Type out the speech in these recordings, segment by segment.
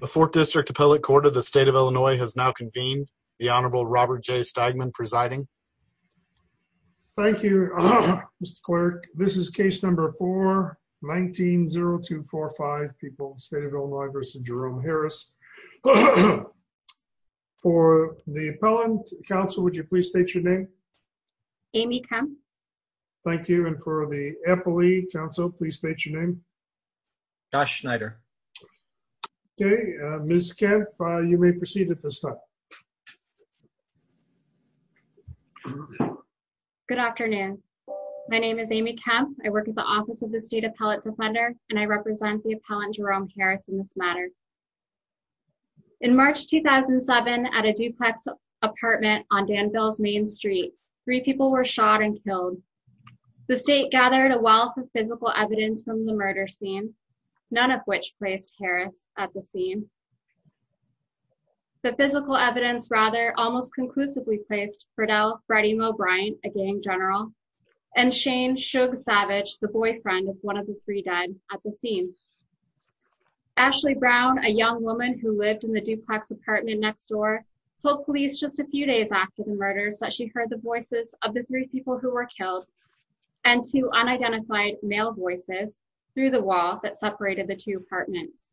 The Fourth District Appellate Court of the State of Illinois has now convened. The Honorable Robert J. Steigman presiding. Thank you, Mr. Clerk. This is case number 4, 19-0245, people, State of Illinois v. Jerome Harris. For the appellant, counsel, would you please state your name? Amy Kemp. Thank you. And for the appellee, counsel, please state your name. Josh Schneider. Okay. Ms. Kemp, you may proceed at this time. Good afternoon. My name is Amy Kemp. I work at the Office of the State Appellate Defender, and I represent the appellant, Jerome Harris, in this matter. In March 2007, at a duplex apartment on Danville's Main Street, three people were shot and killed. The state gathered a wealth of physical evidence from the murder scene, none of which placed Harris at the scene. The physical evidence, rather, almost conclusively placed Fredel Freddy Moe Bryant, a gang general, and Shane Shug Savage, the boyfriend of one of the three dead at the scene. Ashley Brown, a young woman who lived in the duplex apartment next door, told police just a few days after the murders that she heard the voices of the three people who were killed and two unidentified male voices through the wall that separated the two apartments.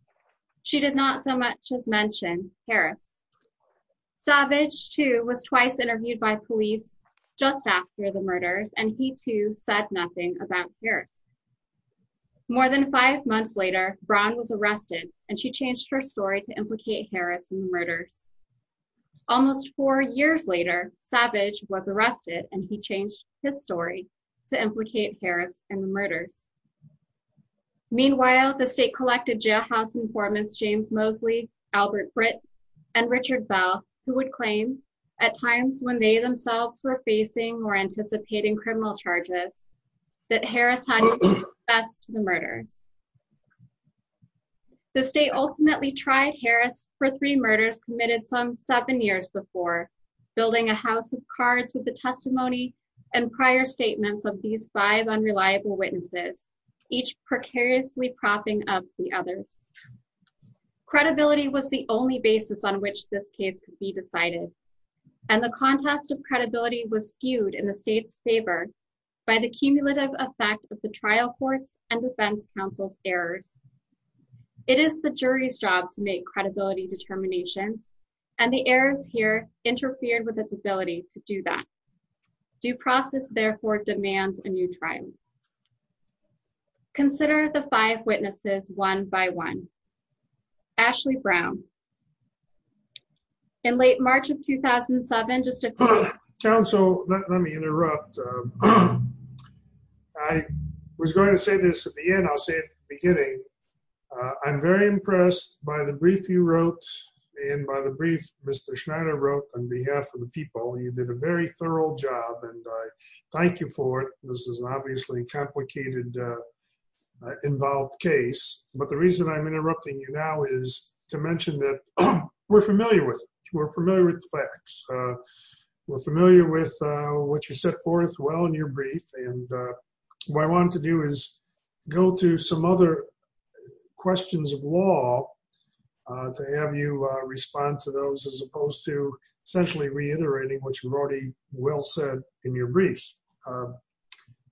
She did not so much as mention Harris. Savage, too, was twice interviewed by police just after the murders, and he, too, said nothing about Harris. More than five months later, Brown was arrested, Almost four years later, Savage was arrested, and he changed his story to implicate Harris in the murders. Meanwhile, the state collected jailhouse informants James Mosley, Albert Britt, and Richard Bell, who would claim, at times when they themselves were facing or anticipating criminal charges, The state ultimately tried Harris for three murders committed some seven years before, building a house of cards with the testimony and prior statements of these five unreliable witnesses, each precariously propping up the others. Credibility was the only basis on which this case could be decided, and the contest of credibility was skewed in the state's favor by the cumulative effect of the trial court's and defense counsel's errors. It is the jury's job to make credibility determinations, and the errors here interfered with its ability to do that. Due process, therefore, demands a new trial. Consider the five witnesses, one by one. Ashley Brown. In late March of 2007, just a- Counsel, let me interrupt. I was going to say this at the end, I'll say it at the beginning. I'm very impressed by the brief you wrote, and by the brief Mr. Schneider wrote, on behalf of the people. You did a very thorough job, and I thank you for it. This is obviously a complicated, involved case, but the reason I'm interrupting you now is to mention that we're familiar with it. We're familiar with the facts. We're familiar with what you set forth well in your brief, and what I wanted to do is go to some other questions of law to have you respond to those, as opposed to essentially reiterating what you've already well said in your briefs.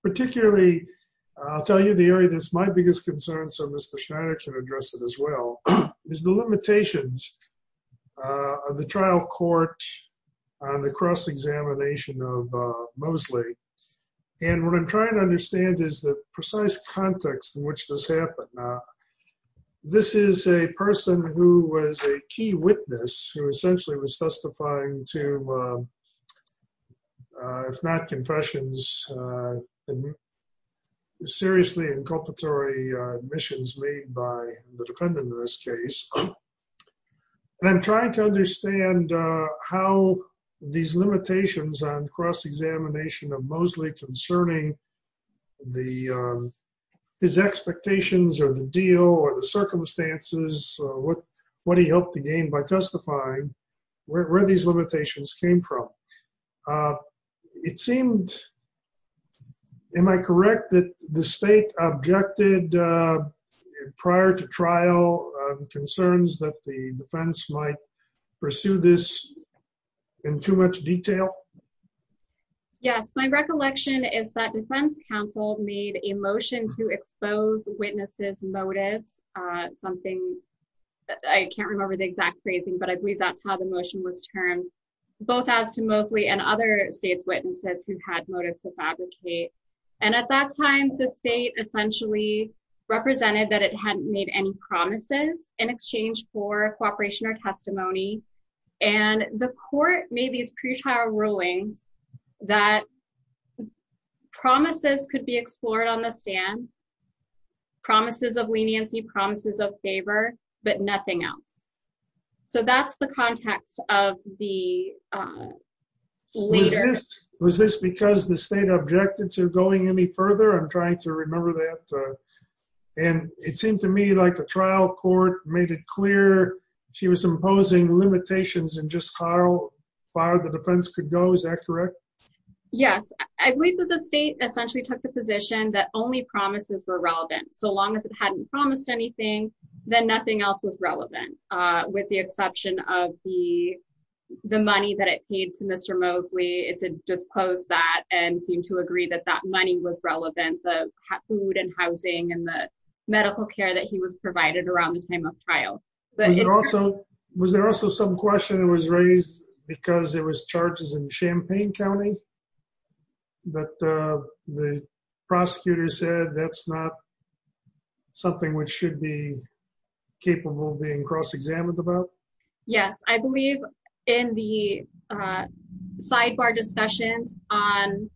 Particularly, I'll tell you the area that's my biggest concern, so Mr. Schneider can address it as well, is the limitations of the trial court on the cross-examination of Mosley. And what I'm trying to understand is the precise context in which this happened. This is a person who was a key witness, who essentially was testifying to, if not confessions, seriously inculpatory admissions made by the defendant in this case. And I'm trying to understand how these limitations on cross-examination of Mosley concerning his expectations, or the deal, or the circumstances, what he hoped to gain by testifying, where these limitations came from. It seemed, am I correct, that the state objected prior to trial concerns that the defense might pursue this in too much detail? Yes, my recollection is that defense counsel made a motion to expose witnesses' motives, something, I can't remember the exact phrasing, but I believe that's how the motion was termed, both as to Mosley and other state's witnesses who had motive to fabricate. And at that time, the state essentially represented that it hadn't made any promises in exchange for cooperation or testimony. And the court made these pretrial rulings that promises could be explored on the stand, promises of leniency, promises of favor, but nothing else. So that's the context of the leader. Was this because the state objected to going any further? I'm trying to remember that. And it seemed to me like a trial court made it clear she was imposing limitations in just how far the defense could go. Is that correct? Yes, I believe that the state essentially took the position that only promises were relevant. So long as it hadn't promised anything, then nothing else was relevant. With the exception of the money that it paid to Mr. Mosley, it did disclose that and seem to agree that that money was relevant, the food and housing and the medical care that he was provided around the time of trial. But also, was there also some question that was raised because there was charges in Champaign County that the prosecutor said that's not something which should be capable of being cross examined about? Yes, I believe in the sidebar discussions on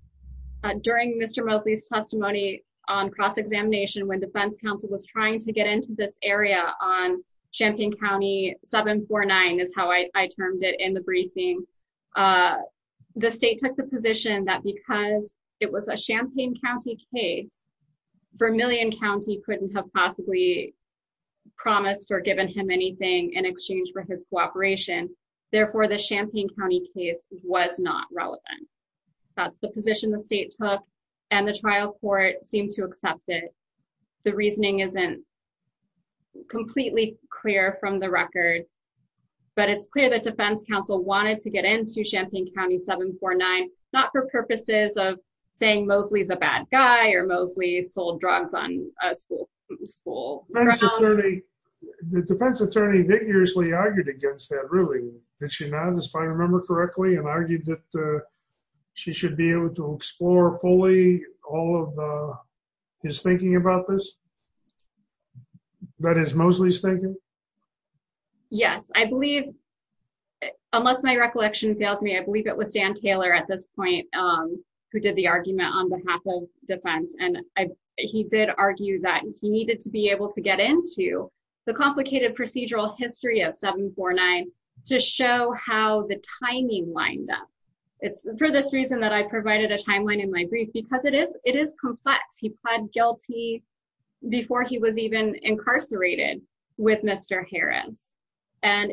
during Mr. Mosley's testimony on cross examination when defense counsel was trying to get into this area on Champaign County 749 is how I termed it in the briefing. The state took the position that because it was a Champaign County case, Vermillion County couldn't have possibly promised or given him anything in exchange for his cooperation. Therefore, the Champaign County case was not relevant. That's the position the state took. And the trial court seemed to accept it. The reasoning isn't completely clear from the record. But it's clear that defense counsel wanted to get into Champaign County 749, not for purposes of saying Mosley's a bad guy or Mosley sold drugs on a school school. The defense attorney vigorously argued against that ruling that you know, if I remember correctly, and argued that she should be able to explore fully all of his thinking about this. That is Mosley's thinking. Yes, I believe. Unless my recollection fails me, I believe it was Dan Taylor at this point, who did the argument on behalf of defense, and he did argue that he needed to be able to get into the complicated procedural history of 749 to show how the timing lined up. It's for this reason that I provided a timeline in my brief, because it is it is complex. He pled guilty before he was even incarcerated with Mr. Harris, and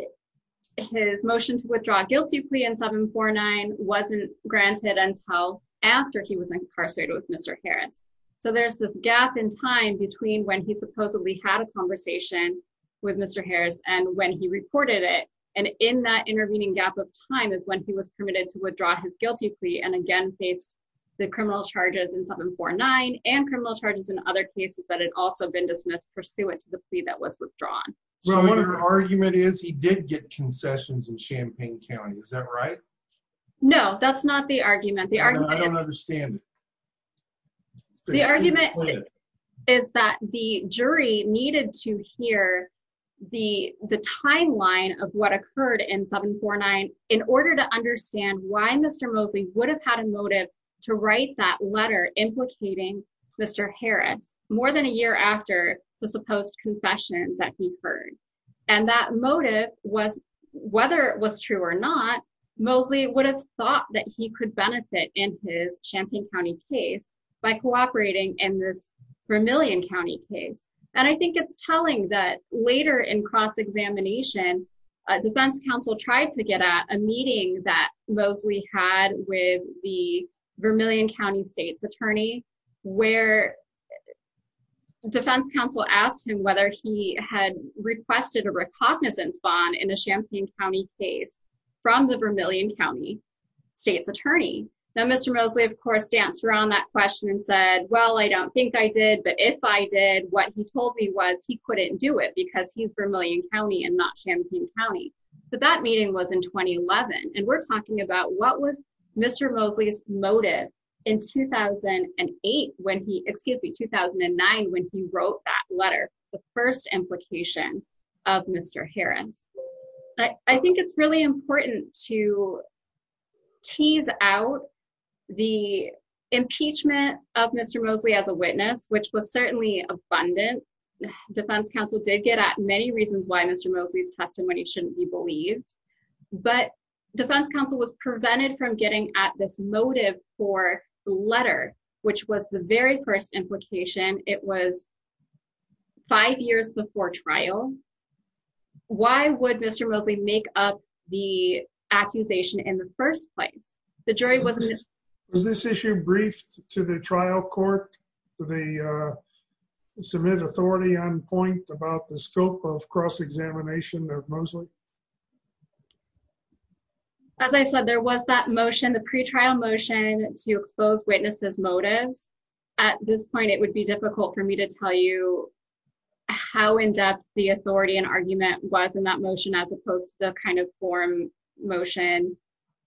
his motion to withdraw a guilty plea in 749 wasn't granted until after he was incarcerated with Mr. Harris. So there's this gap in time between when he supposedly had a conversation with Mr. Harris and when he reported it. And in that intervening gap of time is when he was permitted to withdraw his guilty plea and again, faced the criminal charges in 749 and criminal charges in other cases that had also been dismissed pursuant to the plea that was withdrawn. Well, one argument is he did get concessions in Champaign County. Is that right? No, that's not the argument. The argument I don't understand. The argument is that the jury needed to hear the the timeline of what occurred in 749 in order to understand why Mr. Mosley would have had a motive to write that letter implicating Mr. Harris more than a year after the supposed confession that he heard. And that motive was whether it was true or not, Mosley would have thought that he could benefit in his Champaign County case by cooperating in this Vermillion County case. And I think it's telling that later in cross-examination, defense counsel tried to get at a meeting that Mosley had with the Vermillion County state's attorney, where the defense counsel asked him whether he had requested a recognizance bond in a Champaign County case from the Vermillion County state's attorney. Now, Mr. Mosley, of course, danced around that question and said, well, I don't think I did. But if I did, what he told me was he couldn't do it because he's Vermillion County and not Champaign County. But that meeting was in 2011. And we're talking about what was Mr. Mosley's motive in 2008 when he, excuse me, 2009, when he wrote that letter, the first implication of Mr. Harris. I think it's really important to tease out the impeachment of Mr. Mosley as a witness, which was certainly abundant. Defense counsel did get at many reasons why Mr. Mosley's testimony shouldn't be believed. But defense counsel was prevented from getting at this motive for the letter, which was the very first implication. It was five years before trial. Why would Mr. Mosley make up the accusation in the first place? The jury wasn't... Was this issue briefed to the trial court? Did they submit authority on point about the scope of cross-examination of Mosley? As I said, there was that motion, the pre-trial motion to expose witnesses' motives. At this point, it would be difficult for me to tell you how in-depth the authority and argument was in that motion, as opposed to the kind of forum motion.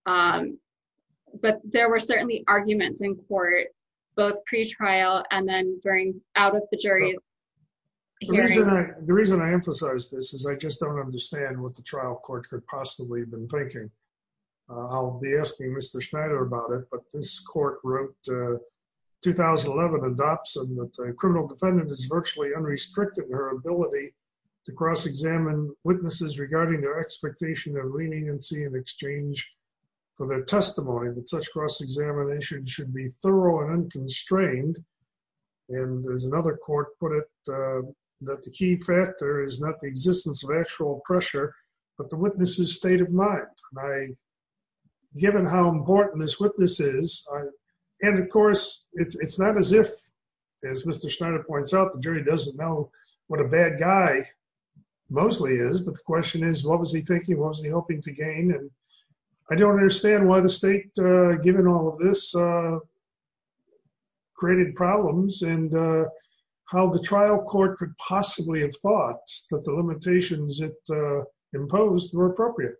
But there were certainly arguments in court, both pre-trial and then during, out of the jury's hearing. The reason I emphasize this is I just don't understand what the trial court could possibly have been thinking. I'll be asking Mr. Schneider about it, but this court wrote 2011 in Dobson that a criminal defendant is virtually unrestricted in her ability to cross-examine witnesses regarding their expectation of leniency in exchange for their testimony, that such cross-examination should be thorough and unconstrained. And as another court put it, that the key factor is not the existence of actual pressure, but the witness's state of mind. Given how important this witness is, and of course, it's not as if, as Mr. Schneider points out, the jury doesn't know what a bad guy Mosley is, but the question is, what was he thinking? What was he hoping to gain? And I don't understand why the state given all of this created problems and how the trial court could possibly have thought that the limitations it imposed were appropriate.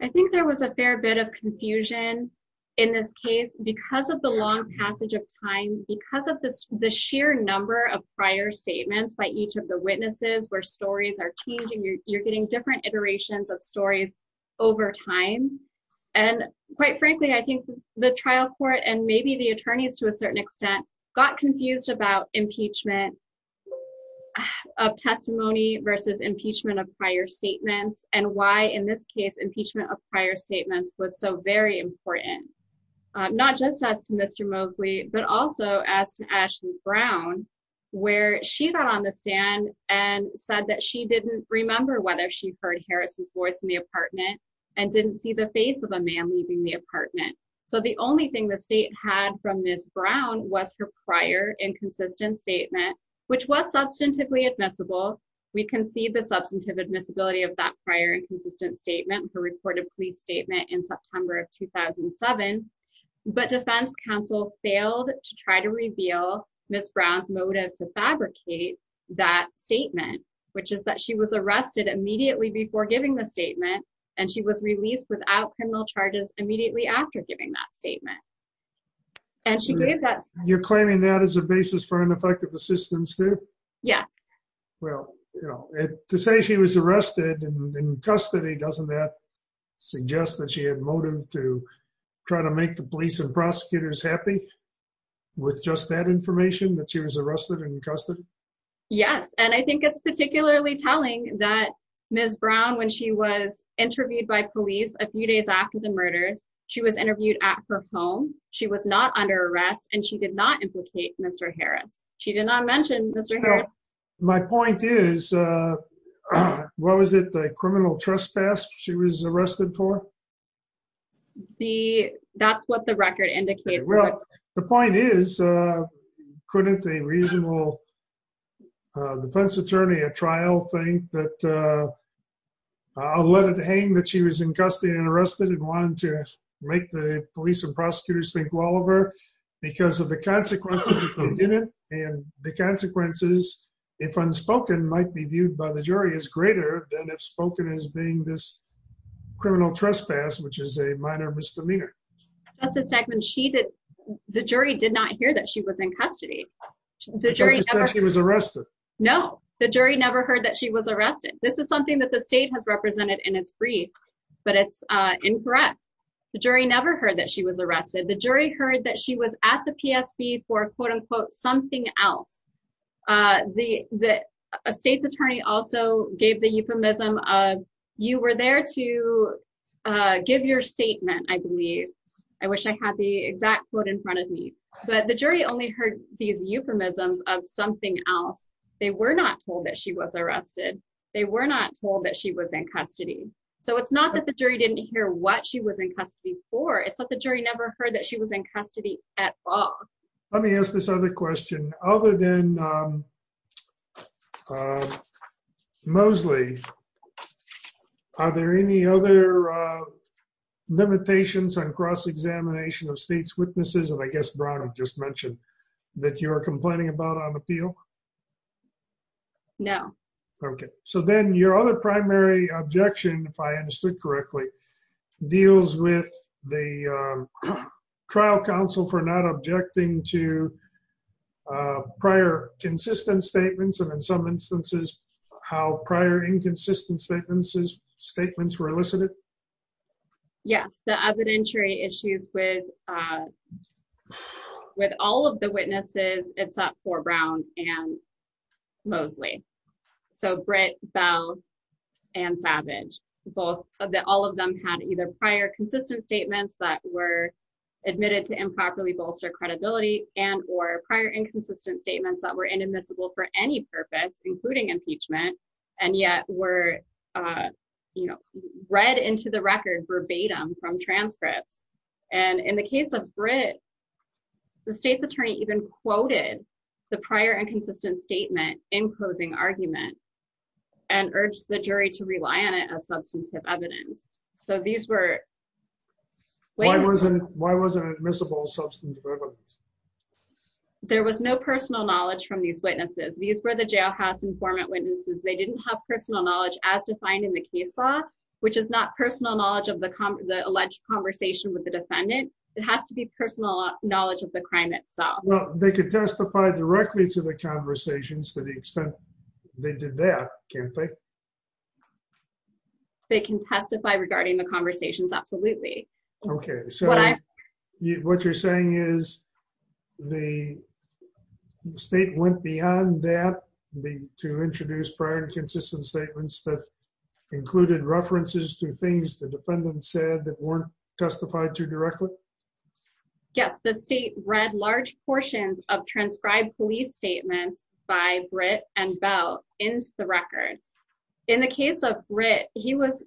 I think there was a fair bit of confusion in this case because of the long passage of time, because of the sheer number of prior statements by each of the witnesses where stories are changing, you're getting different iterations of stories over time. And quite frankly, I think the trial court, and maybe the attorneys to a certain extent, got confused about impeachment of testimony versus impeachment of prior statements, and why in this case, impeachment of prior statements was so very important. Not just as to Mr. Mosley, but also as to Ashley Brown, where she got on the stand and said that she didn't remember whether she heard Harris's voice in the apartment and didn't see the face of a man leaving the apartment. So the only thing the state had from Ms. Brown was her prior inconsistent statement, which was substantively admissible. We can see the substantive admissibility of that prior inconsistent statement, her reported police statement in September of 2007. But defense counsel failed to try to reveal Ms. Brown's motive to fabricate that statement, which is that she was arrested immediately before giving the statement. And she was released without criminal charges immediately after giving that statement. And she gave that- You're claiming that as a basis for ineffective assistance too? Yes. Well, to say she was arrested and in custody, doesn't that suggest that she had motive to try to make the police and prosecutors happy with just that information that she was arrested and in custody? Yes. And I think it's particularly telling that Ms. Brown, when she was interviewed by police a few days after the murders, she was interviewed at her home, she was not under arrest, and she did not implicate Mr. Harris. She did not mention Mr. Harris. My point is, what was it, the criminal trespass she was arrested for? So that's what the record indicates. Well, the point is, couldn't a reasonable defense attorney at trial think that, I'll let it hang that she was in custody and arrested and wanted to make the police and prosecutors think well of her, because of the consequences if they didn't. And the consequences, if unspoken, might be viewed by the jury as greater than if spoken as being this criminal trespass, which is a minor misdemeanor. Justice Stegman, the jury did not hear that she was in custody. The jury never heard that she was arrested. No, the jury never heard that she was arrested. This is something that the state has represented in its brief, but it's incorrect. The jury never heard that she was arrested. The jury heard that she was at the PSB for quote unquote, something else. The state's attorney also gave the euphemism of, you were there to give your statement, I believe. I wish I had the exact quote in front of me. But the jury only heard these euphemisms of something else. They were not told that she was arrested. They were not told that she was in custody. So it's not that the jury didn't hear what she was in custody for. It's that the jury never heard that she was in custody at all. Let me ask this other question. Other than Mosley, are there any other limitations on cross-examination of state's witnesses? And I guess, Bronwyn just mentioned that you are complaining about on appeal? No. Okay. So then your other primary objection, if I understood correctly, deals with the counsel for not objecting to prior consistent statements, and in some instances, how prior inconsistent statements were elicited? Yes. The evidentiary issues with all of the witnesses, except for Brown and Mosley. So Britt, Bell, and Savage. That all of them had either prior consistent statements that were admitted to improperly bolster credibility and or prior inconsistent statements that were inadmissible for any purpose, including impeachment, and yet were read into the record verbatim from transcripts. And in the case of Britt, the state's attorney even quoted the prior inconsistent statement in closing argument and urged the jury to rely on it as substantive evidence. So these were... Why wasn't it admissible substantive evidence? There was no personal knowledge from these witnesses. These were the jailhouse informant witnesses. They didn't have personal knowledge as defined in the case law, which is not personal knowledge of the alleged conversation with the defendant. It has to be personal knowledge of crime itself. Well, they could testify directly to the conversations to the extent they did that, can't they? They can testify regarding the conversations, absolutely. Okay, so what you're saying is the state went beyond that to introduce prior inconsistent statements that included references to things the defendant said that weren't testified to directly? Yes, the state read large portions of transcribed police statements by Britt and Bell into the record. In the case of Britt, he was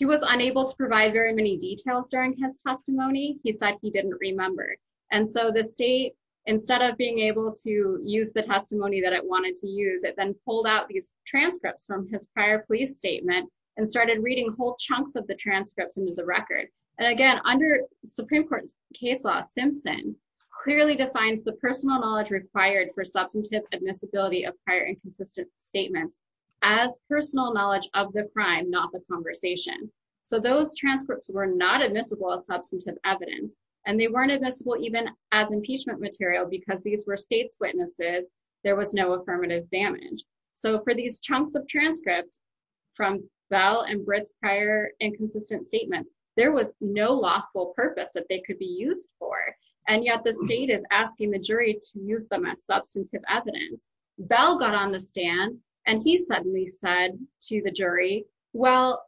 unable to provide very many details during his testimony. He said he didn't remember. And so the state, instead of being able to use the testimony that it wanted to use, it then pulled out these transcripts from his prior police statement and started reading whole chunks of the transcripts into the record. And again, under Supreme Court case law, Simpson clearly defines the personal knowledge required for substantive admissibility of prior inconsistent statements as personal knowledge of the crime, not the conversation. So those transcripts were not admissible as substantive evidence, and they weren't admissible even as impeachment material because these were state's witnesses. There was no affirmative damage. So for these chunks of transcript from Bell and Britt's prior inconsistent statements, there was no lawful purpose that they could be used for. And yet, the state is asking the jury to use them as substantive evidence. Bell got on the stand, and he suddenly said to the jury, well,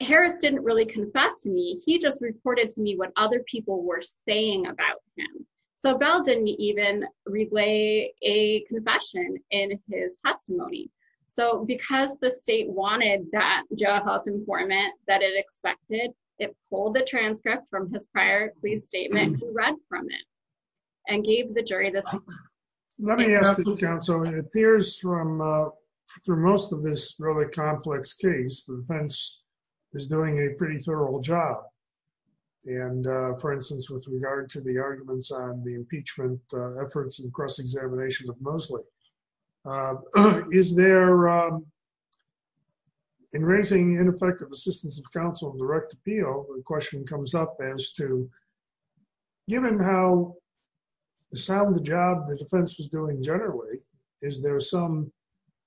Harris didn't really confess to me, he just reported to me what other people were saying about him. So Bell didn't even relay a confession in his testimony. So because the state wanted that jailhouse informant that it expected, it pulled the transcript from his prior police statement and read from it, and gave the jury this. Let me ask the counsel, it appears from through most of this really complex case, the defense is doing a pretty thorough job. And for instance, with regard to the arguments on the impeachment efforts and cross examination of Mosley, is there, in raising ineffective assistance of counsel and direct appeal, the question comes up as to, given how sound the job the defense was doing generally, is there some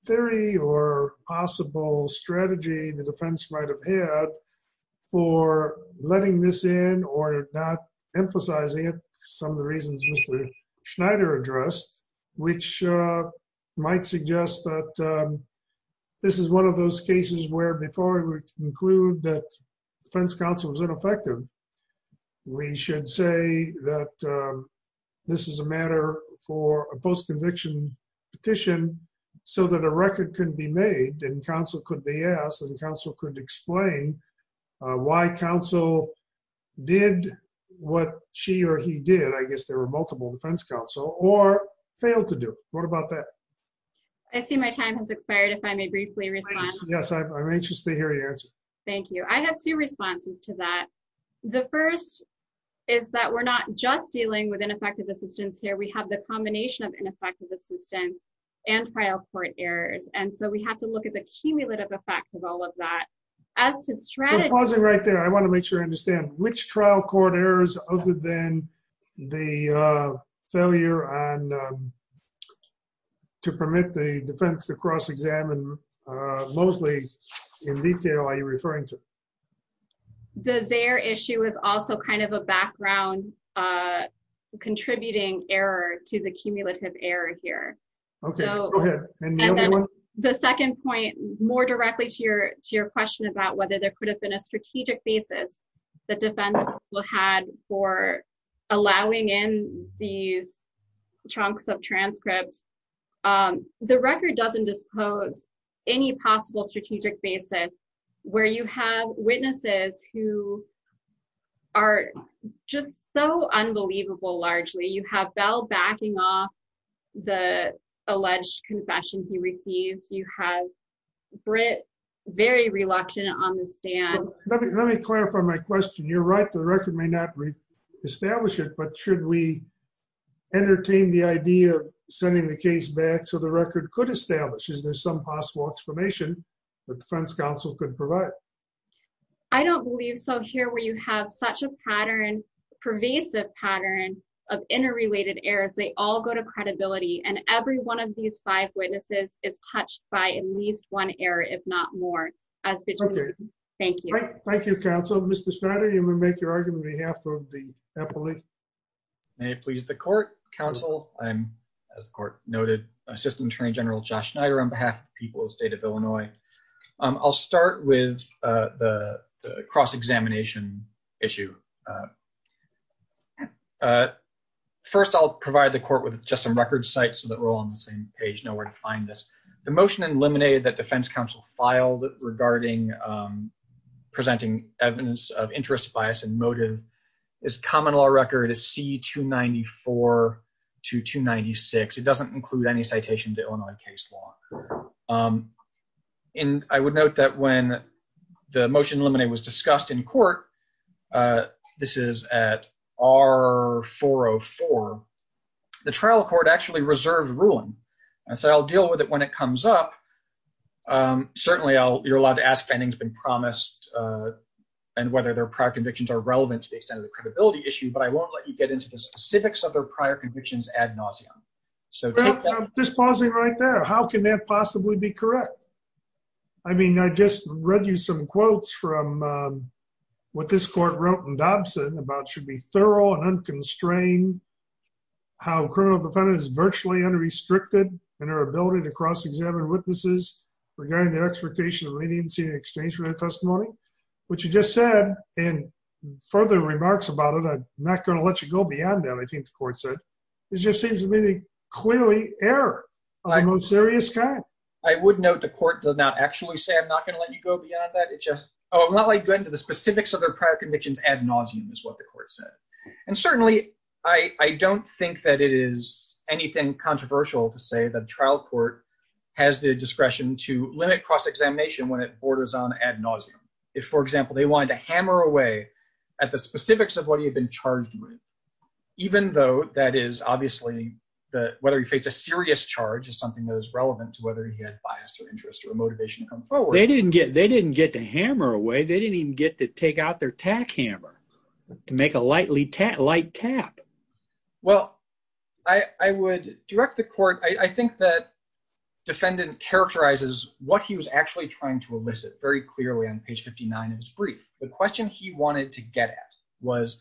theory or possible strategy the defense might have had for letting this in or not emphasizing it? Some of the reasons Mr. Schneider addressed, which might suggest that this is one of those cases where before we conclude that defense counsel was ineffective, we should say that this is a matter for a post conviction petition, so that a record can be made and counsel could be asked and counsel could explain why counsel did what she or he did. I guess there were multiple defense counsel or failed to do. What about that? I see my time has expired. If I may briefly respond. Yes, I'm anxious to hear your answer. Thank you. I have two responses to that. The first is that we're not just dealing with ineffective assistance here, we have the combination of ineffective assistance and trial court errors. And so we have to look at the cumulative effect of all of that. As to strategy... Pausing right there. I want to make sure I understand which trial court errors other than the failure to permit the defense to cross examine mostly in detail are you referring to? The Zaire issue is also kind of a background contributing error to the cumulative error here. Okay, go ahead. The second point more directly to your question about whether there could have been a strategic basis that defense had for allowing in these chunks of transcripts. The record doesn't disclose any possible strategic basis where you have witnesses who are just so unbelievable largely you have Bell backing off the alleged confession he received, you have Britt very reluctant on the stand. Let me clarify my question. You're right, the record may not re-establish it. But should we entertain the idea of sending the case back so the record could establish? Is there some possible explanation that defense counsel could provide? I don't believe so here where you have such a pervasive pattern of interrelated errors, they all go to credibility and every one of these five witnesses is touched by at least one error, if not more. Thank you. Thank you, counsel. Mr. Schneider, you want to make your argument on behalf of the appellate? May it please the court, counsel. I'm, as the court noted, Assistant Attorney General Josh Schneider on behalf of the people of the state of Illinois. I'll start with the cross-examination issue. First, I'll provide the court with just some record sites so that we're all on the same page, know where to find this. The motion eliminated that defense counsel filed regarding presenting evidence of interest, bias, and motive is common law record is C-294 to 296. It doesn't include any citation to Illinois case law. And I would note that when the motion eliminated was discussed in court, this is at R-404, the trial court actually reserved ruling. And so I'll deal with it when it comes up. Certainly, I'll, you're allowed to ask if anything's been promised and whether their convictions are relevant to the extent of the credibility issue, but I won't let you get into the specifics of their prior convictions ad nauseam. So just pausing right there. How can that possibly be correct? I mean, I just read you some quotes from what this court wrote in Dobson about should be thorough and unconstrained. How criminal defendant is virtually unrestricted in our ability to cross-examine witnesses regarding the expectation of leniency and testimony, which you just said in further remarks about it. I'm not going to let you go beyond that. I think the court said, this just seems to be the clearly error. I'm a serious guy. I would note the court does not actually say, I'm not going to let you go beyond that. It just, oh, I'm not like going to the specifics of their prior convictions ad nauseam is what the court said. And certainly I don't think that it is anything controversial to say that trial court has the discretion to limit cross-examination when it borders on ad nauseam. If for example, they wanted to hammer away at the specifics of what he had been charged with, even though that is obviously the, whether he faced a serious charge is something that is relevant to whether he had bias or interest or motivation to come forward. They didn't get, they didn't get to hammer away. They didn't even get to take out their tack hammer to make a lightly tap light tap. Well, I would direct the court. I think that defendant characterizes what he was actually trying to elicit very clearly on page 59 of his brief. The question he wanted to get at was,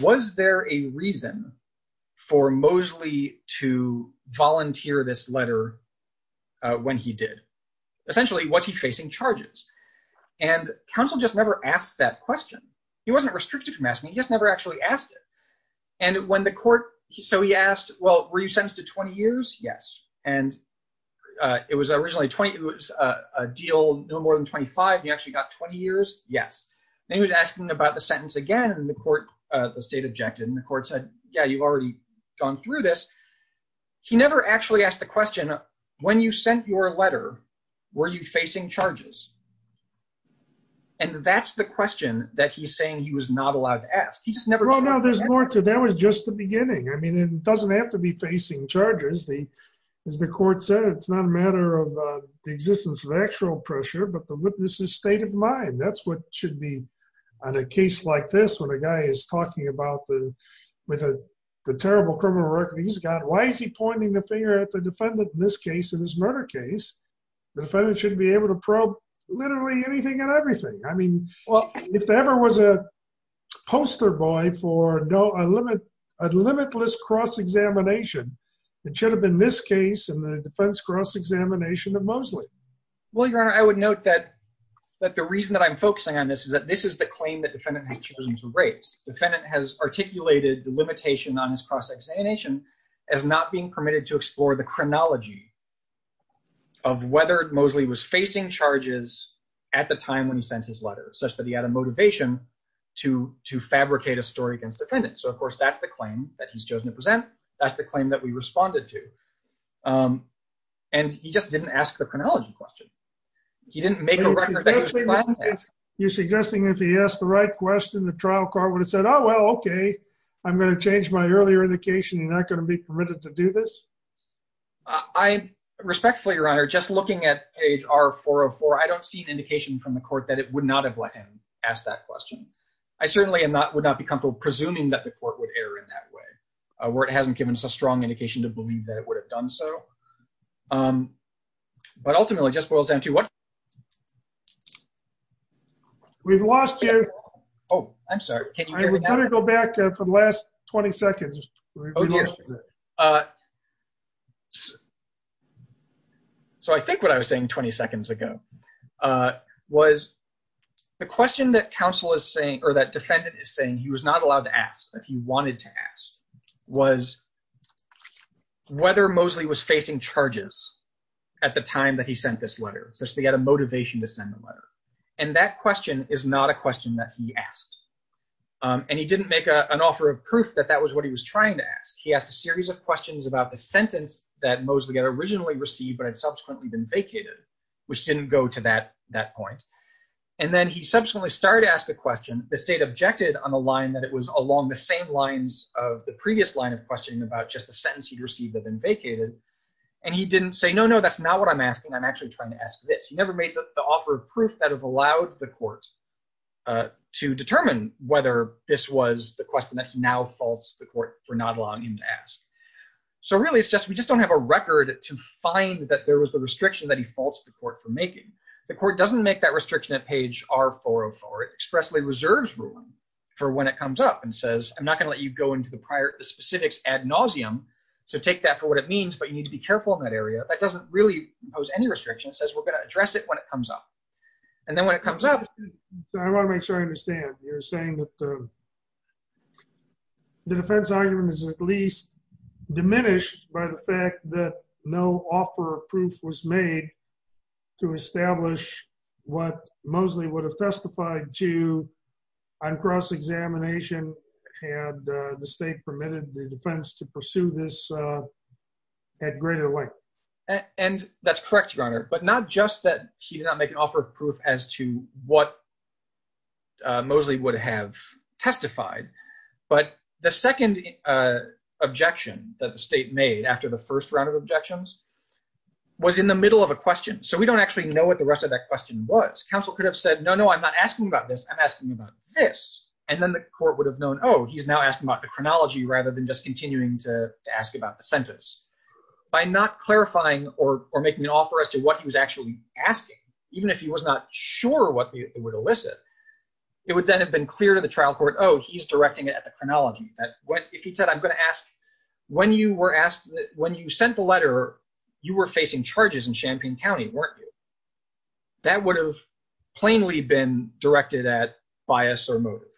was there a reason for Mosley to volunteer this letter when he did? Essentially, was he facing charges? And counsel just never asked that question. He wasn't restricted from it. And when the court, so he asked, well, were you sentenced to 20 years? Yes. And it was originally 20, it was a deal, no more than 25. You actually got 20 years. Yes. Then he was asking about the sentence again and the court, the state objected and the court said, yeah, you've already gone through this. He never actually asked the question, when you sent your letter, were you facing charges? And that's the question that he's not allowed to ask. He just never. Well, no, there's more to that was just the beginning. I mean, it doesn't have to be facing charges. The, as the court said, it's not a matter of the existence of actual pressure, but the witness's state of mind. That's what should be on a case like this. When a guy is talking about the, with a terrible criminal record, he's got, why is he pointing the finger at the defendant in this case, in this murder case, the defendant should be able to probe literally anything and everything. I mean, if there ever was a poster boy for no, a limit, a limitless cross-examination, it should have been this case and the defense cross-examination of Mosley. Well, your Honor, I would note that, that the reason that I'm focusing on this is that this is the claim that defendant has chosen to raise. Defendant has articulated the limitation on his cross-examination as not being permitted to explore the chronology of whether Mosley was such that he had a motivation to, to fabricate a story against defendants. So of course, that's the claim that he's chosen to present. That's the claim that we responded to. And he just didn't ask the chronology question. He didn't make a record. You're suggesting if he asked the right question, the trial court would have said, oh, well, okay, I'm going to change my earlier indication. You're not going to be permitted to do this. I respectfully, your Honor, just looking at page R404, I don't see an indication from the court that would not have let him ask that question. I certainly would not be comfortable presuming that the court would err in that way, where it hasn't given us a strong indication to believe that it would have done so. But ultimately, it just boils down to what? We've lost you. Oh, I'm sorry. We better go back for the last 20 seconds. Oh, dear. So I think what I was saying 20 seconds ago was the question that counsel is saying, or that defendant is saying he was not allowed to ask, but he wanted to ask, was whether Mosley was facing charges at the time that he sent this letter, such that he had a motivation to send the letter. And that question is not a question that he asked. And he didn't make an offer of proof that that was what he was trying to ask. He asked a series of questions about the sentence that Mosley had originally received, but had subsequently been vacated, which didn't go to that point. And then he subsequently started to ask the question. The state objected on the line that it was along the same lines of the previous line of questioning about just the sentence he'd received had been vacated. And he didn't say, no, no, that's not what I'm asking. I'm actually trying to ask this. He never made the offer of proof that have allowed the court to determine whether this was the question that he now faults the court for not allowing him to ask. So really it's just, we just don't have a record to find that there was the restriction that he faults the court for making. The court doesn't make that restriction at page R-404. It expressly reserves room for when it comes up and says, I'm not going to let you go into the specifics ad nauseum to take that for what it means, but you need to be careful in that area. That doesn't really pose any restriction. It says we're going to address it when it comes up. And then when it comes up, I want to make sure I understand you're saying that the defense argument is at least diminished by the fact that no offer of proof was made to establish what Mosley would have testified to on cross-examination had the state permitted the defense to pursue this at greater length. And that's correct, Your Honor. But not just that he's not making offer of proof as to what Mosley would have testified, but the second objection that the state made after the first round of objections was in the middle of a question. So we don't actually know what the rest of that question was. Counsel could have said, no, no, I'm not asking about this. I'm asking about this. And then the court would have known, oh, he's now asking about the chronology rather than just continuing to ask about the sentence. By not even if he was not sure what they would elicit, it would then have been clear to the trial court, oh, he's directing it at the chronology. If he said, I'm going to ask, when you were asked, when you sent the letter, you were facing charges in Champaign County, weren't you? That would have plainly been directed at bias or motive.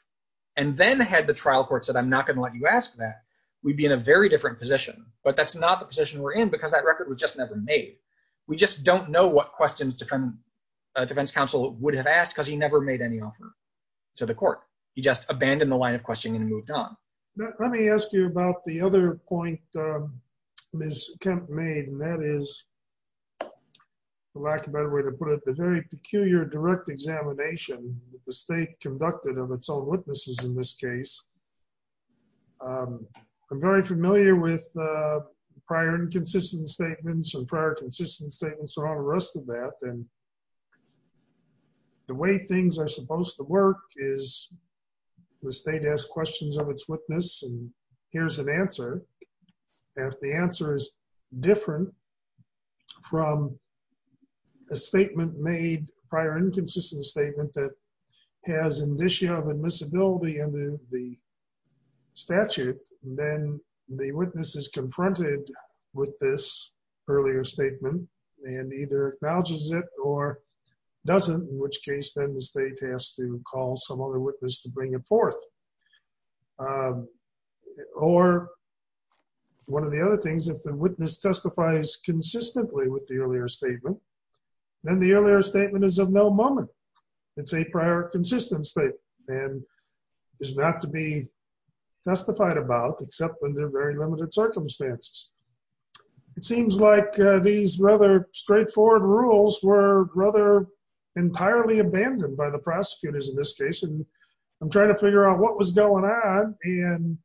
And then had the trial court said, I'm not going to let you ask that, we'd be in a very different position. But that's not the position we're in because that record was just never made. We just don't know what questions defense counsel would have asked because he never made any offer to the court. He just abandoned the line of questioning and moved on. Let me ask you about the other point Ms. Kemp made, and that is, for lack of a better way to put it, the very peculiar direct examination that the state conducted of its own witnesses in this case. I'm very familiar with prior inconsistent statements and prior consistent statements around the rest of that. And the way things are supposed to work is the state has questions of its witness and here's an answer. And if the answer is different from a statement made, prior inconsistent statement that has indicia of admissibility in the statute, then the witness is either acknowledges it or doesn't, in which case then the state has to call some other witness to bring it forth. Or one of the other things, if the witness testifies consistently with the earlier statement, then the earlier statement is of no moment. It's a prior consistent statement and is not to be testified about except when they're very limited circumstances. It seems like these rather straightforward rules were rather entirely abandoned by the prosecutors in this case. And I'm trying to figure out what was going on and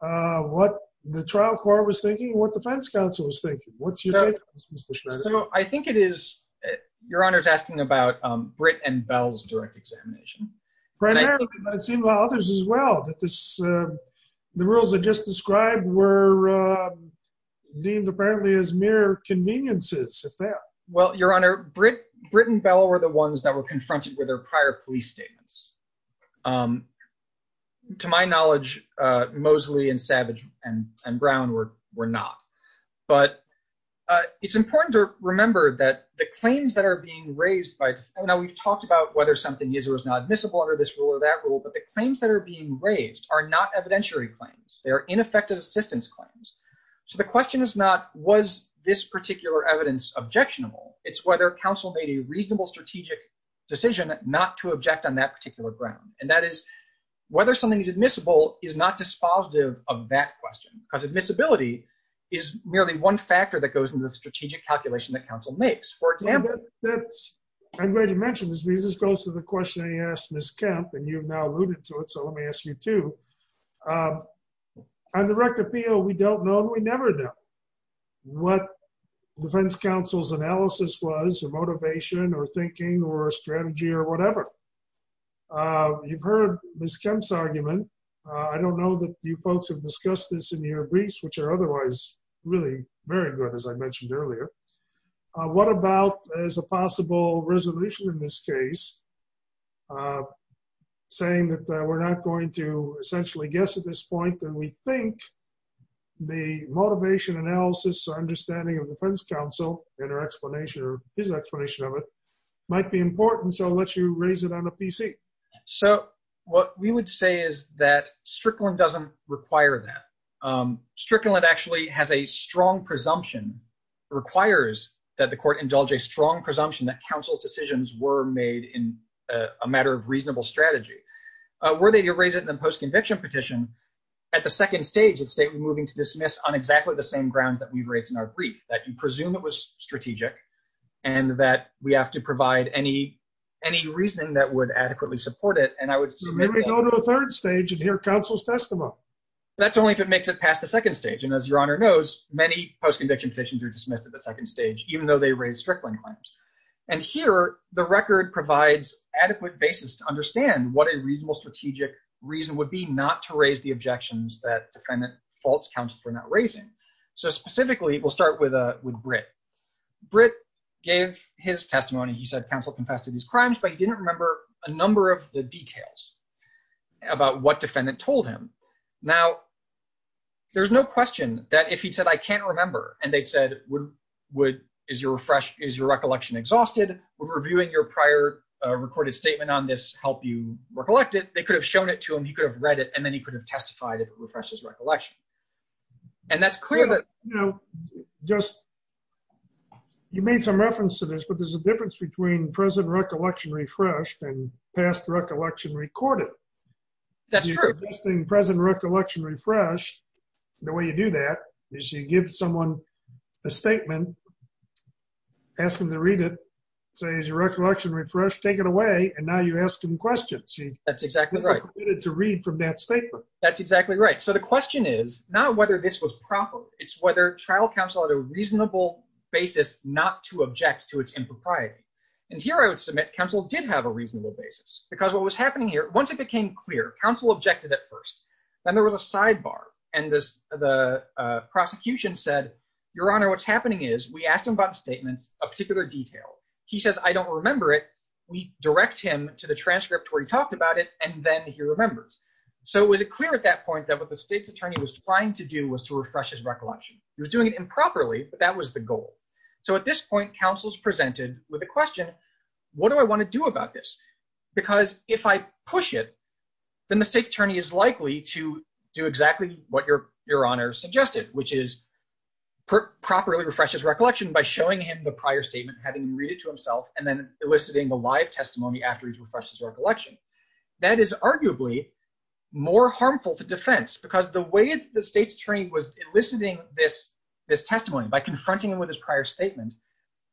what the trial court was thinking, what defense counsel was thinking. What's your take on this Mr. Schneider? I think it is, your honor is asking about Britt and Bell's direct examination. Primarily, but I've seen a lot of others as well, that the rules that just described were deemed apparently as mere conveniences, if that. Well, your honor, Britt and Bell were the ones that were confronted with their prior police statements. To my knowledge, Mosley and Savage and Brown were not. But it's important to remember that the claims that are being raised by, now we've talked about whether something is or is admissible under this rule or that rule, but the claims that are being raised are not evidentiary claims. They are ineffective assistance claims. So the question is not, was this particular evidence objectionable? It's whether counsel made a reasonable strategic decision not to object on that particular ground. And that is whether something is admissible is not dispositive of that question. Because admissibility is merely one factor that goes into the strategic calculation that counsel makes, for example. I'm glad you mentioned this, this goes to the question I asked Ms. Kemp, and you've now alluded to it, so let me ask you too. On the rect appeal, we don't know and we never know what defense counsel's analysis was or motivation or thinking or strategy or whatever. You've heard Ms. Kemp's argument. I don't know that you folks have discussed this in your briefs, which are otherwise really very good, as I mentioned earlier. What about as a possible resolution in this case, saying that we're not going to essentially guess at this point that we think the motivation analysis or understanding of defense counsel and her explanation or his explanation of it might be important, so I'll let you raise it on the PC. So what we would say is that Strickland doesn't require that. Strickland actually has a strong presumption, requires that the court indulge a strong presumption that counsel's decisions were made in a matter of reasonable strategy. Were they to raise it in a post-conviction petition, at the second stage, it's state we're moving to dismiss on exactly the same grounds that we've raised in our brief, that you presume it was strategic and that we have to provide any reasoning that would adequately support it, and I would maybe go to the third stage and hear counsel's testimony. That's only if it makes it past the second stage, and as your honor knows, many post-conviction petitions are dismissed at the second stage, even though they raise Strickland claims. And here, the record provides adequate basis to understand what a reasonable strategic reason would be not to raise the objections that defendant faults counsel for not raising. So specifically, we'll start with Britt. Britt gave his testimony. He said counsel confessed to these crimes, but he didn't remember a number of the details about what defendant told him. Now, there's no question that if he said, I can't remember, and they'd said, is your recollection exhausted? Would reviewing your prior recorded statement on this help you recollect it? They could have shown it to him, he could have read it, and then he could have testified if it refreshes recollection. And that's clear that, you know, just you made some reference to this, but there's a difference between present recollection refreshed and past recollection recorded. That's true. Present recollection refreshed, the way you do that is you give someone a statement, ask them to read it, say, is your recollection refreshed, take it away, and now you ask them questions. That's exactly right. To read from that statement. That's exactly right. So the question is not whether this was proper, it's whether trial counsel had a reasonable basis not to object to its impropriety. And here I would submit counsel did have a reasonable basis, because what was happening here, once it became clear, counsel objected at first, then there was a sidebar. And this, the prosecution said, Your Honor, what's happening is we asked him about statements of particular detail. He says, I don't remember it. We direct him to the transcript where he talked about it, and then he remembers. So it was a clear at that point that what the state's attorney was trying to do was to refresh his recollection. He was doing it improperly, but that was the goal. So at this point, counsel's presented with a question, what do I want to do about this? Because if I push it, then the state's attorney is likely to do exactly what Your Honor suggested, which is properly refresh his recollection by showing him the prior statement, having read it to himself, and then eliciting a live testimony after he's refreshed his recollection. That is arguably more harmful to defense, because the way the state's attorney was eliciting this testimony by confronting him with his prior statements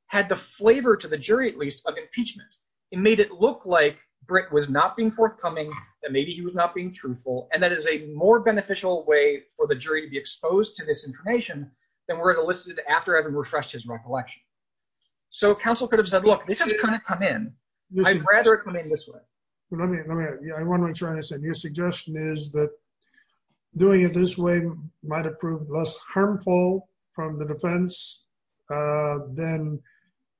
had the flavor to the jury, at least, of impeachment. It made it look like Britt was not being forthcoming, that maybe he was not being truthful, and that is a more beneficial way for the jury to be exposed to this information than were it elicited after having refreshed his recollection. So counsel could have said, Look, this has kind of come in. I'd rather it come in this way. I want to try this, and your suggestion is that doing it this way might have proved less harmful from the defense than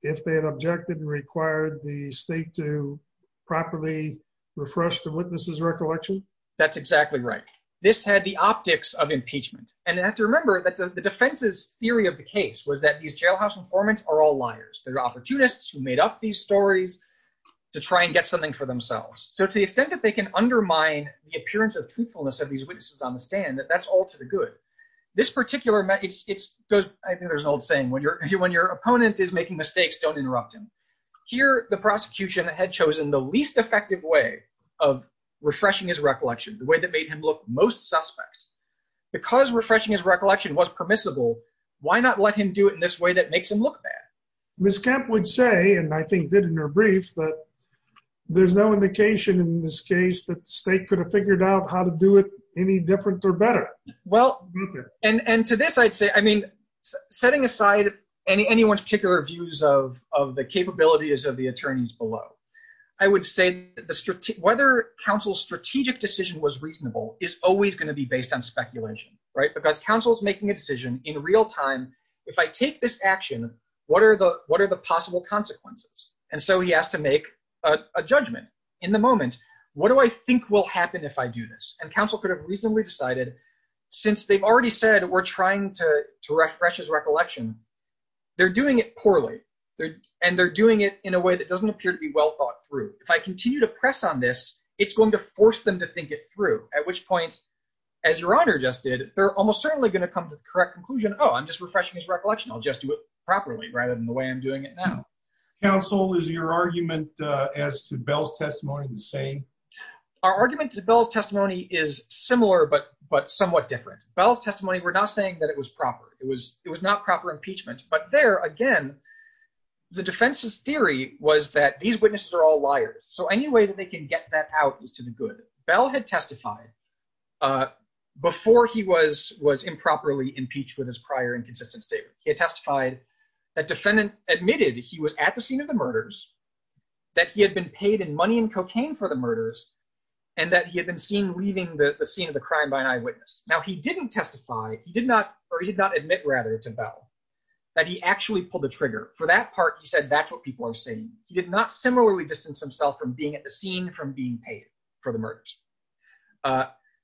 if they had objected and required the state to properly refresh the witness's recollection? That's exactly right. This had the optics of impeachment. And I have to remember that the defense's theory of the case was that these jailhouse informants are all liars. They're opportunists who made up these stories to try and get something for themselves. So to the extent that they can undermine the appearance of truthfulness of these witnesses on the stand, that's all to the good. This particular, I think there's an old saying, When your opponent is making mistakes, don't interrupt him. Here, the prosecution had chosen the least effective way of refreshing his recollection, the way that made him look most suspect. Because refreshing his recollection would say, and I think did in her brief, that there's no indication in this case that the state could have figured out how to do it any different or better. Well, and to this, I'd say, I mean, setting aside any anyone's particular views of the capabilities of the attorneys below, I would say that whether counsel's strategic decision was reasonable is always going to be based on speculation, right? Because counsel's making a decision in real time, if I take this action, what are the possible consequences? And so he has to make a judgment in the moment. What do I think will happen if I do this? And counsel could have reasonably decided, since they've already said we're trying to refresh his recollection, they're doing it poorly. And they're doing it in a way that doesn't appear to be well thought through. If I continue to press on this, it's going to force them to think it through, at which point, as your honor just did, they're almost certainly going to come to the correct conclusion, oh, I'm just refreshing his recollection, I'll just do it properly, rather than the way I'm doing it now. Counsel, is your argument as to Bell's testimony the same? Our argument to Bell's testimony is similar, but somewhat different. Bell's testimony, we're not saying that it was proper, it was not proper impeachment. But there, again, the defense's theory was that these witnesses are all liars. So any way that they can get that out is to the good. Bell had testified before he was improperly impeached with his prior inconsistent statement. He had testified that defendant admitted he was at the scene of the murders, that he had been paid in money and cocaine for the murders, and that he had been seen leaving the scene of the crime by an eyewitness. Now, he didn't testify, he did not, or he did not admit, rather, to Bell, that he actually pulled the trigger. For that part, he said that's what people are saying. He did not similarly distance himself from being at the scene from being paid for the murders.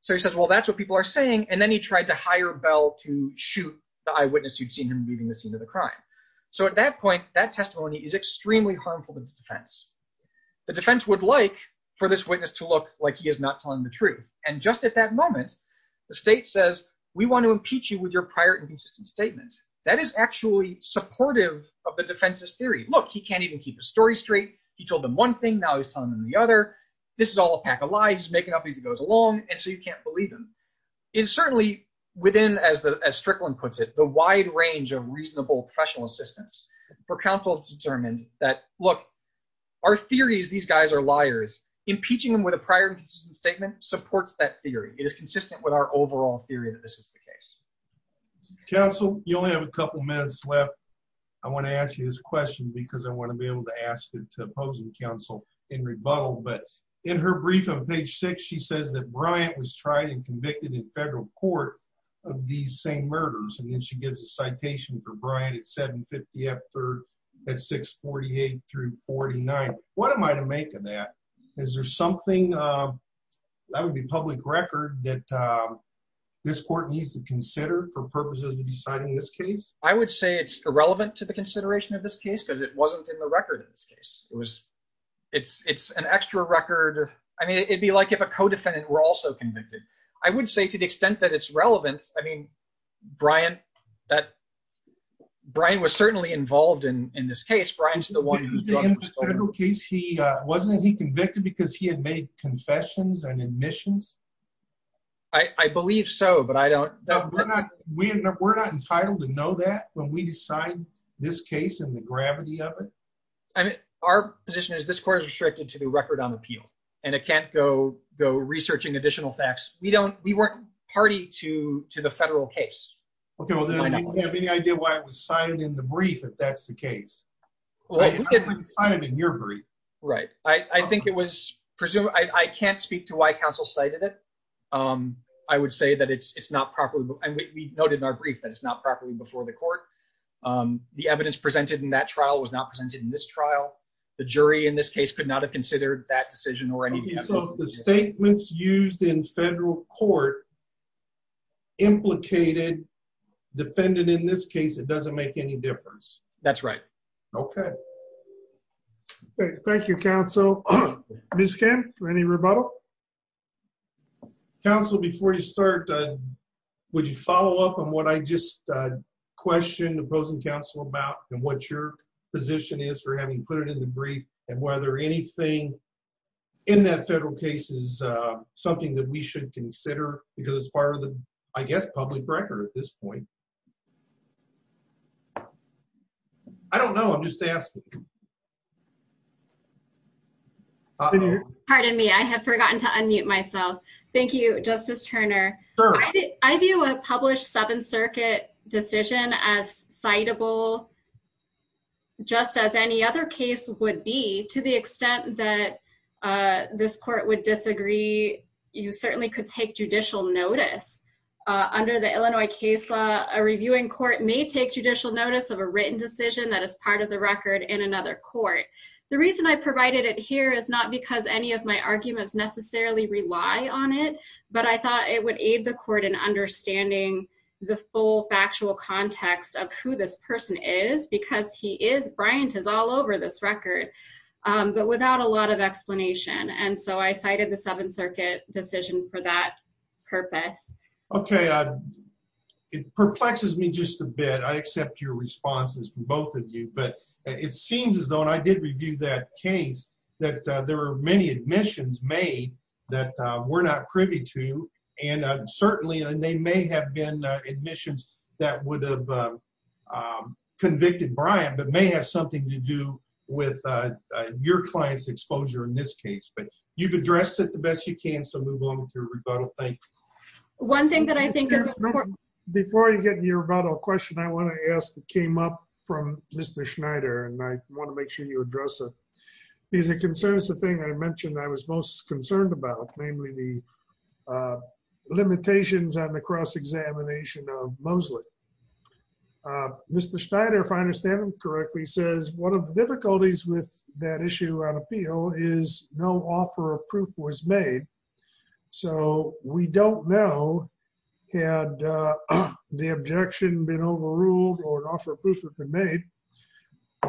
So he says, well, that's what people are saying. And then he tried to hire Bell to shoot the eyewitness who'd seen him leaving the scene of the crime. So at that point, that testimony is extremely harmful to the defense. The defense would like for this witness to look like he is not telling the truth. And just at that moment, the state says, we want to impeach you with your prior inconsistent statement. That is actually supportive of the defense's theory. Look, he can't even keep his story straight. He told them one thing, now he's telling them the other. This is all a pack of lies. He's making up things as it goes along, and so you can't believe him. It's certainly within, as Strickland puts it, the wide range of reasonable professional assistance for counsel to determine that, look, our theory is these guys are liars. Impeaching them with a prior inconsistent statement supports that theory. It is consistent with our overall theory that this is the case. Counsel, you only have a couple minutes left. I want to ask you this question because I want to be able to ask it to opposing counsel in rebuttal. But in her brief on page six, she says that Bryant was tried and convicted in federal court of these same murders. And then she gives a citation for Bryant at 750 F 3rd at 648 through 49. What am I to make of that? Is there something, that would be public record that this court needs to consider for purposes of deciding this case? I would say it's irrelevant to the consideration of this case because it wasn't in the record in this case. It was, it's, it's an extra record. I mean, it'd be like if a co-defendant were also convicted. I would say to the extent that it's relevant, I mean, Bryant, that Bryant was certainly involved in this case. Bryant's the one in the federal case. He wasn't, he convicted because he had made confessions and admissions. I believe so, but I don't, we're not, we're not entitled to know that when we decide this case and the gravity of it. I mean, our position is this court is restricted to the record on appeal and it can't go, go researching additional facts. We don't, we weren't party to, to the federal case. Okay. Well, then do you have any idea why it was cited in the brief, if that's the case? Well, I didn't sign it in your brief. Right. I think it was presumed. I can't speak to why counsel cited it. I would say that it's, it's not properly, and we noted in our brief that it's not properly before the court. The evidence presented in that trial was not presented in this trial. The jury in this case could not have considered that decision or any evidence. The statements used in federal court implicated defendant in this case, it doesn't make any difference. That's right. Okay. Thank you, counsel. Ms. Kim, any rebuttal? Counsel, before you start, would you follow up on what I just questioned the opposing counsel about and what your position is for having put it in the brief and whether anything in that federal case is something that we should consider because it's part of the, I guess, public record at this point. I don't know. I'm just asking. Pardon me. I have forgotten to unmute myself. Thank you, Justice Turner. I view a published Seventh Circuit decision as citable just as any other case would be to the extent that this court would disagree. You certainly could take judicial notice. Under the Illinois case law, a reviewing court may take judicial notice of a written decision that is part of the record in another court. The reason I provided it here is not because any of my arguments necessarily rely on it, but I thought it would aid the court in understanding the full factual context of who this person is because he is, Bryant is all over this record, but without a lot of explanation. And so I cited the Seventh Circuit decision for that purpose. Okay. It perplexes me just a bit. I accept your responses from both of you, but it seems as though, and I did review that case, that there were many admissions made that we're not privy to. And certainly, they may have been admissions that would have convicted Bryant, but may have something to do with your client's exposure in this case. But you've addressed it the best you can, so move on with your rebuttal. Thank you. One thing that I think is important. Before you get to your rebuttal question, I want to ask that came up from Mr. Schneider, and I want to make sure you address it. Because it concerns the thing I mentioned I was most concerned about, namely the limitations on the cross-examination of Mosley. Mr. Schneider, if I understand him correctly, says one of the difficulties with that issue on appeal is no offer of proof was made. So we don't know, had the objection been overruled or an offer of proof had been made,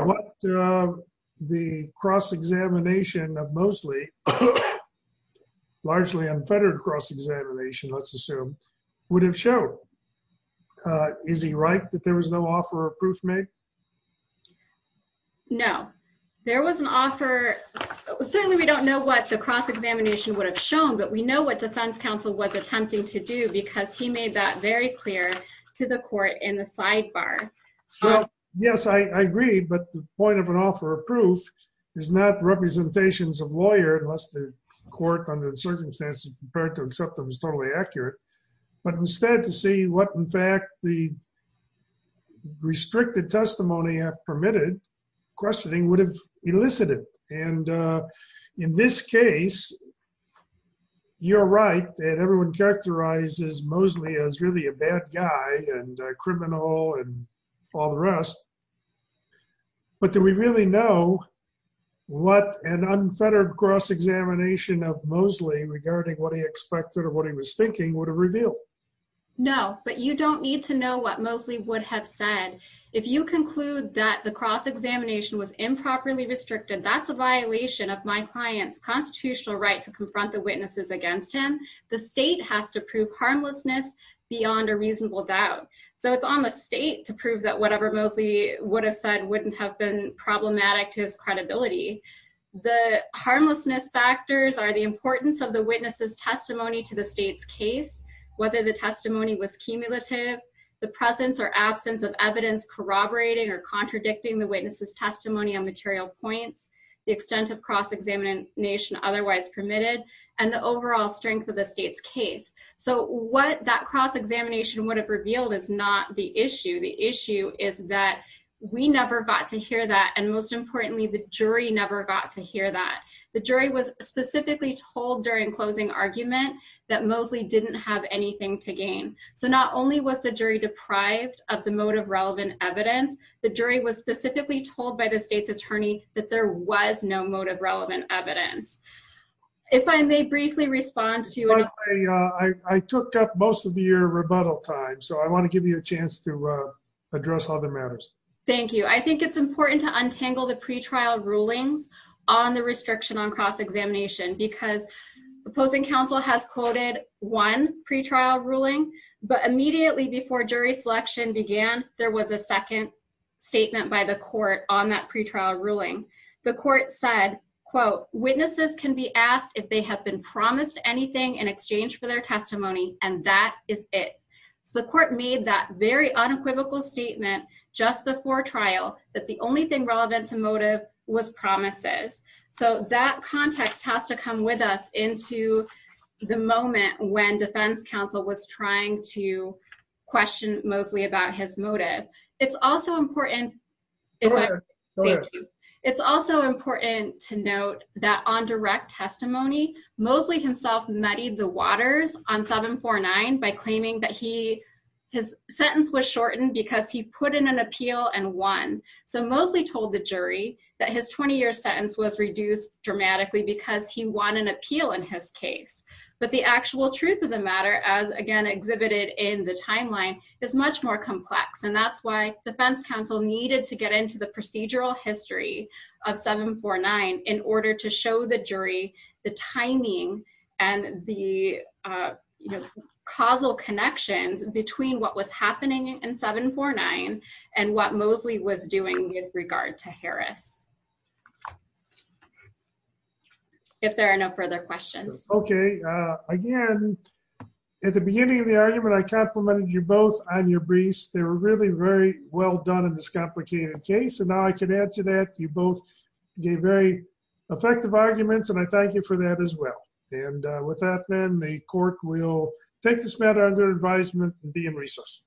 what the cross-examination of Mosley, largely unfettered cross-examination, let's assume, would have showed. Is he right that there was no offer of proof made? No. There was an offer. Certainly we don't know what the cross-examination would have shown, but we know what defense counsel was attempting to do because he made that very clear to the court in the sidebar. Well, yes, I agree. But the point of an offer of proof is not representations of lawyer, unless the court under the circumstances prepared to accept it was totally accurate, but instead to see what in fact the restricted testimony have permitted, questioning would have elicited. And in this case, you're right that everyone characterizes Mosley as really a bad guy and a criminal and all the rest. But do we really know what an unfettered cross-examination of Mosley regarding what he expected or what he was thinking would have revealed? No, but you don't need to know what Mosley would have said. If you conclude that the cross-examination was improperly restricted, that's a violation of my client's constitutional right to confront the witnesses against him. The state has to prove harmlessness beyond a reasonable doubt. So it's on the state to prove that whatever Mosley would have said wouldn't have been problematic to his credibility. The harmlessness factors are the importance of the witness's testimony to the state's case, whether the testimony was cumulative, the presence or absence of evidence corroborating or contradicting the witness's testimony on material points, the extent of cross-examination otherwise permitted, and the overall strength of the state's case. So what that cross-examination would have revealed is not the issue. The issue is that we never got to hear that, and most importantly, the jury never got to hear that. The jury was specifically told during closing argument that Mosley didn't have anything to gain. So not only was the jury deprived of the motive-relevant evidence, the jury was specifically told by the state's attorney that there was no motive-relevant evidence. If I may briefly respond I took up most of your rebuttal time, so I want to give you a chance to address other matters. Thank you. I think it's important to untangle the pre-trial rulings on the restriction on cross-examination because opposing counsel has quoted one pre-trial ruling, but immediately before jury selection began, there was a second statement by the court on that pre-trial ruling. The court said, quote, witnesses can be asked if they have been promised anything in exchange for their testimony, and that is it. So the court made that very unequivocal statement just before trial that the only thing relevant to motive was promises. So that context has to come with us into the moment when defense counsel was trying to question Mosley about his motive. It's also important to note that on direct testimony, Mosley himself muddied the waters on 749 by claiming that his sentence was shortened because he put in an appeal and won. So Mosley told the jury that his 20-year sentence was reduced dramatically because he won an appeal in his case. But the actual truth of the matter, as again exhibited in the timeline, is much more complex, and that's why defense counsel needed to get into the procedural history of 749 in order to show the jury the timing and the causal connections between what was happening in 749 and what Mosley was doing with regard to Harris. If there are no further questions. Okay, again, at the beginning of the argument, I complimented you both on your briefs. They were really very well done in this complicated case, and now I can add to that you both gave very effective arguments, and I thank you for that as well. And with that then, the court will take this matter under advisement and be in recess.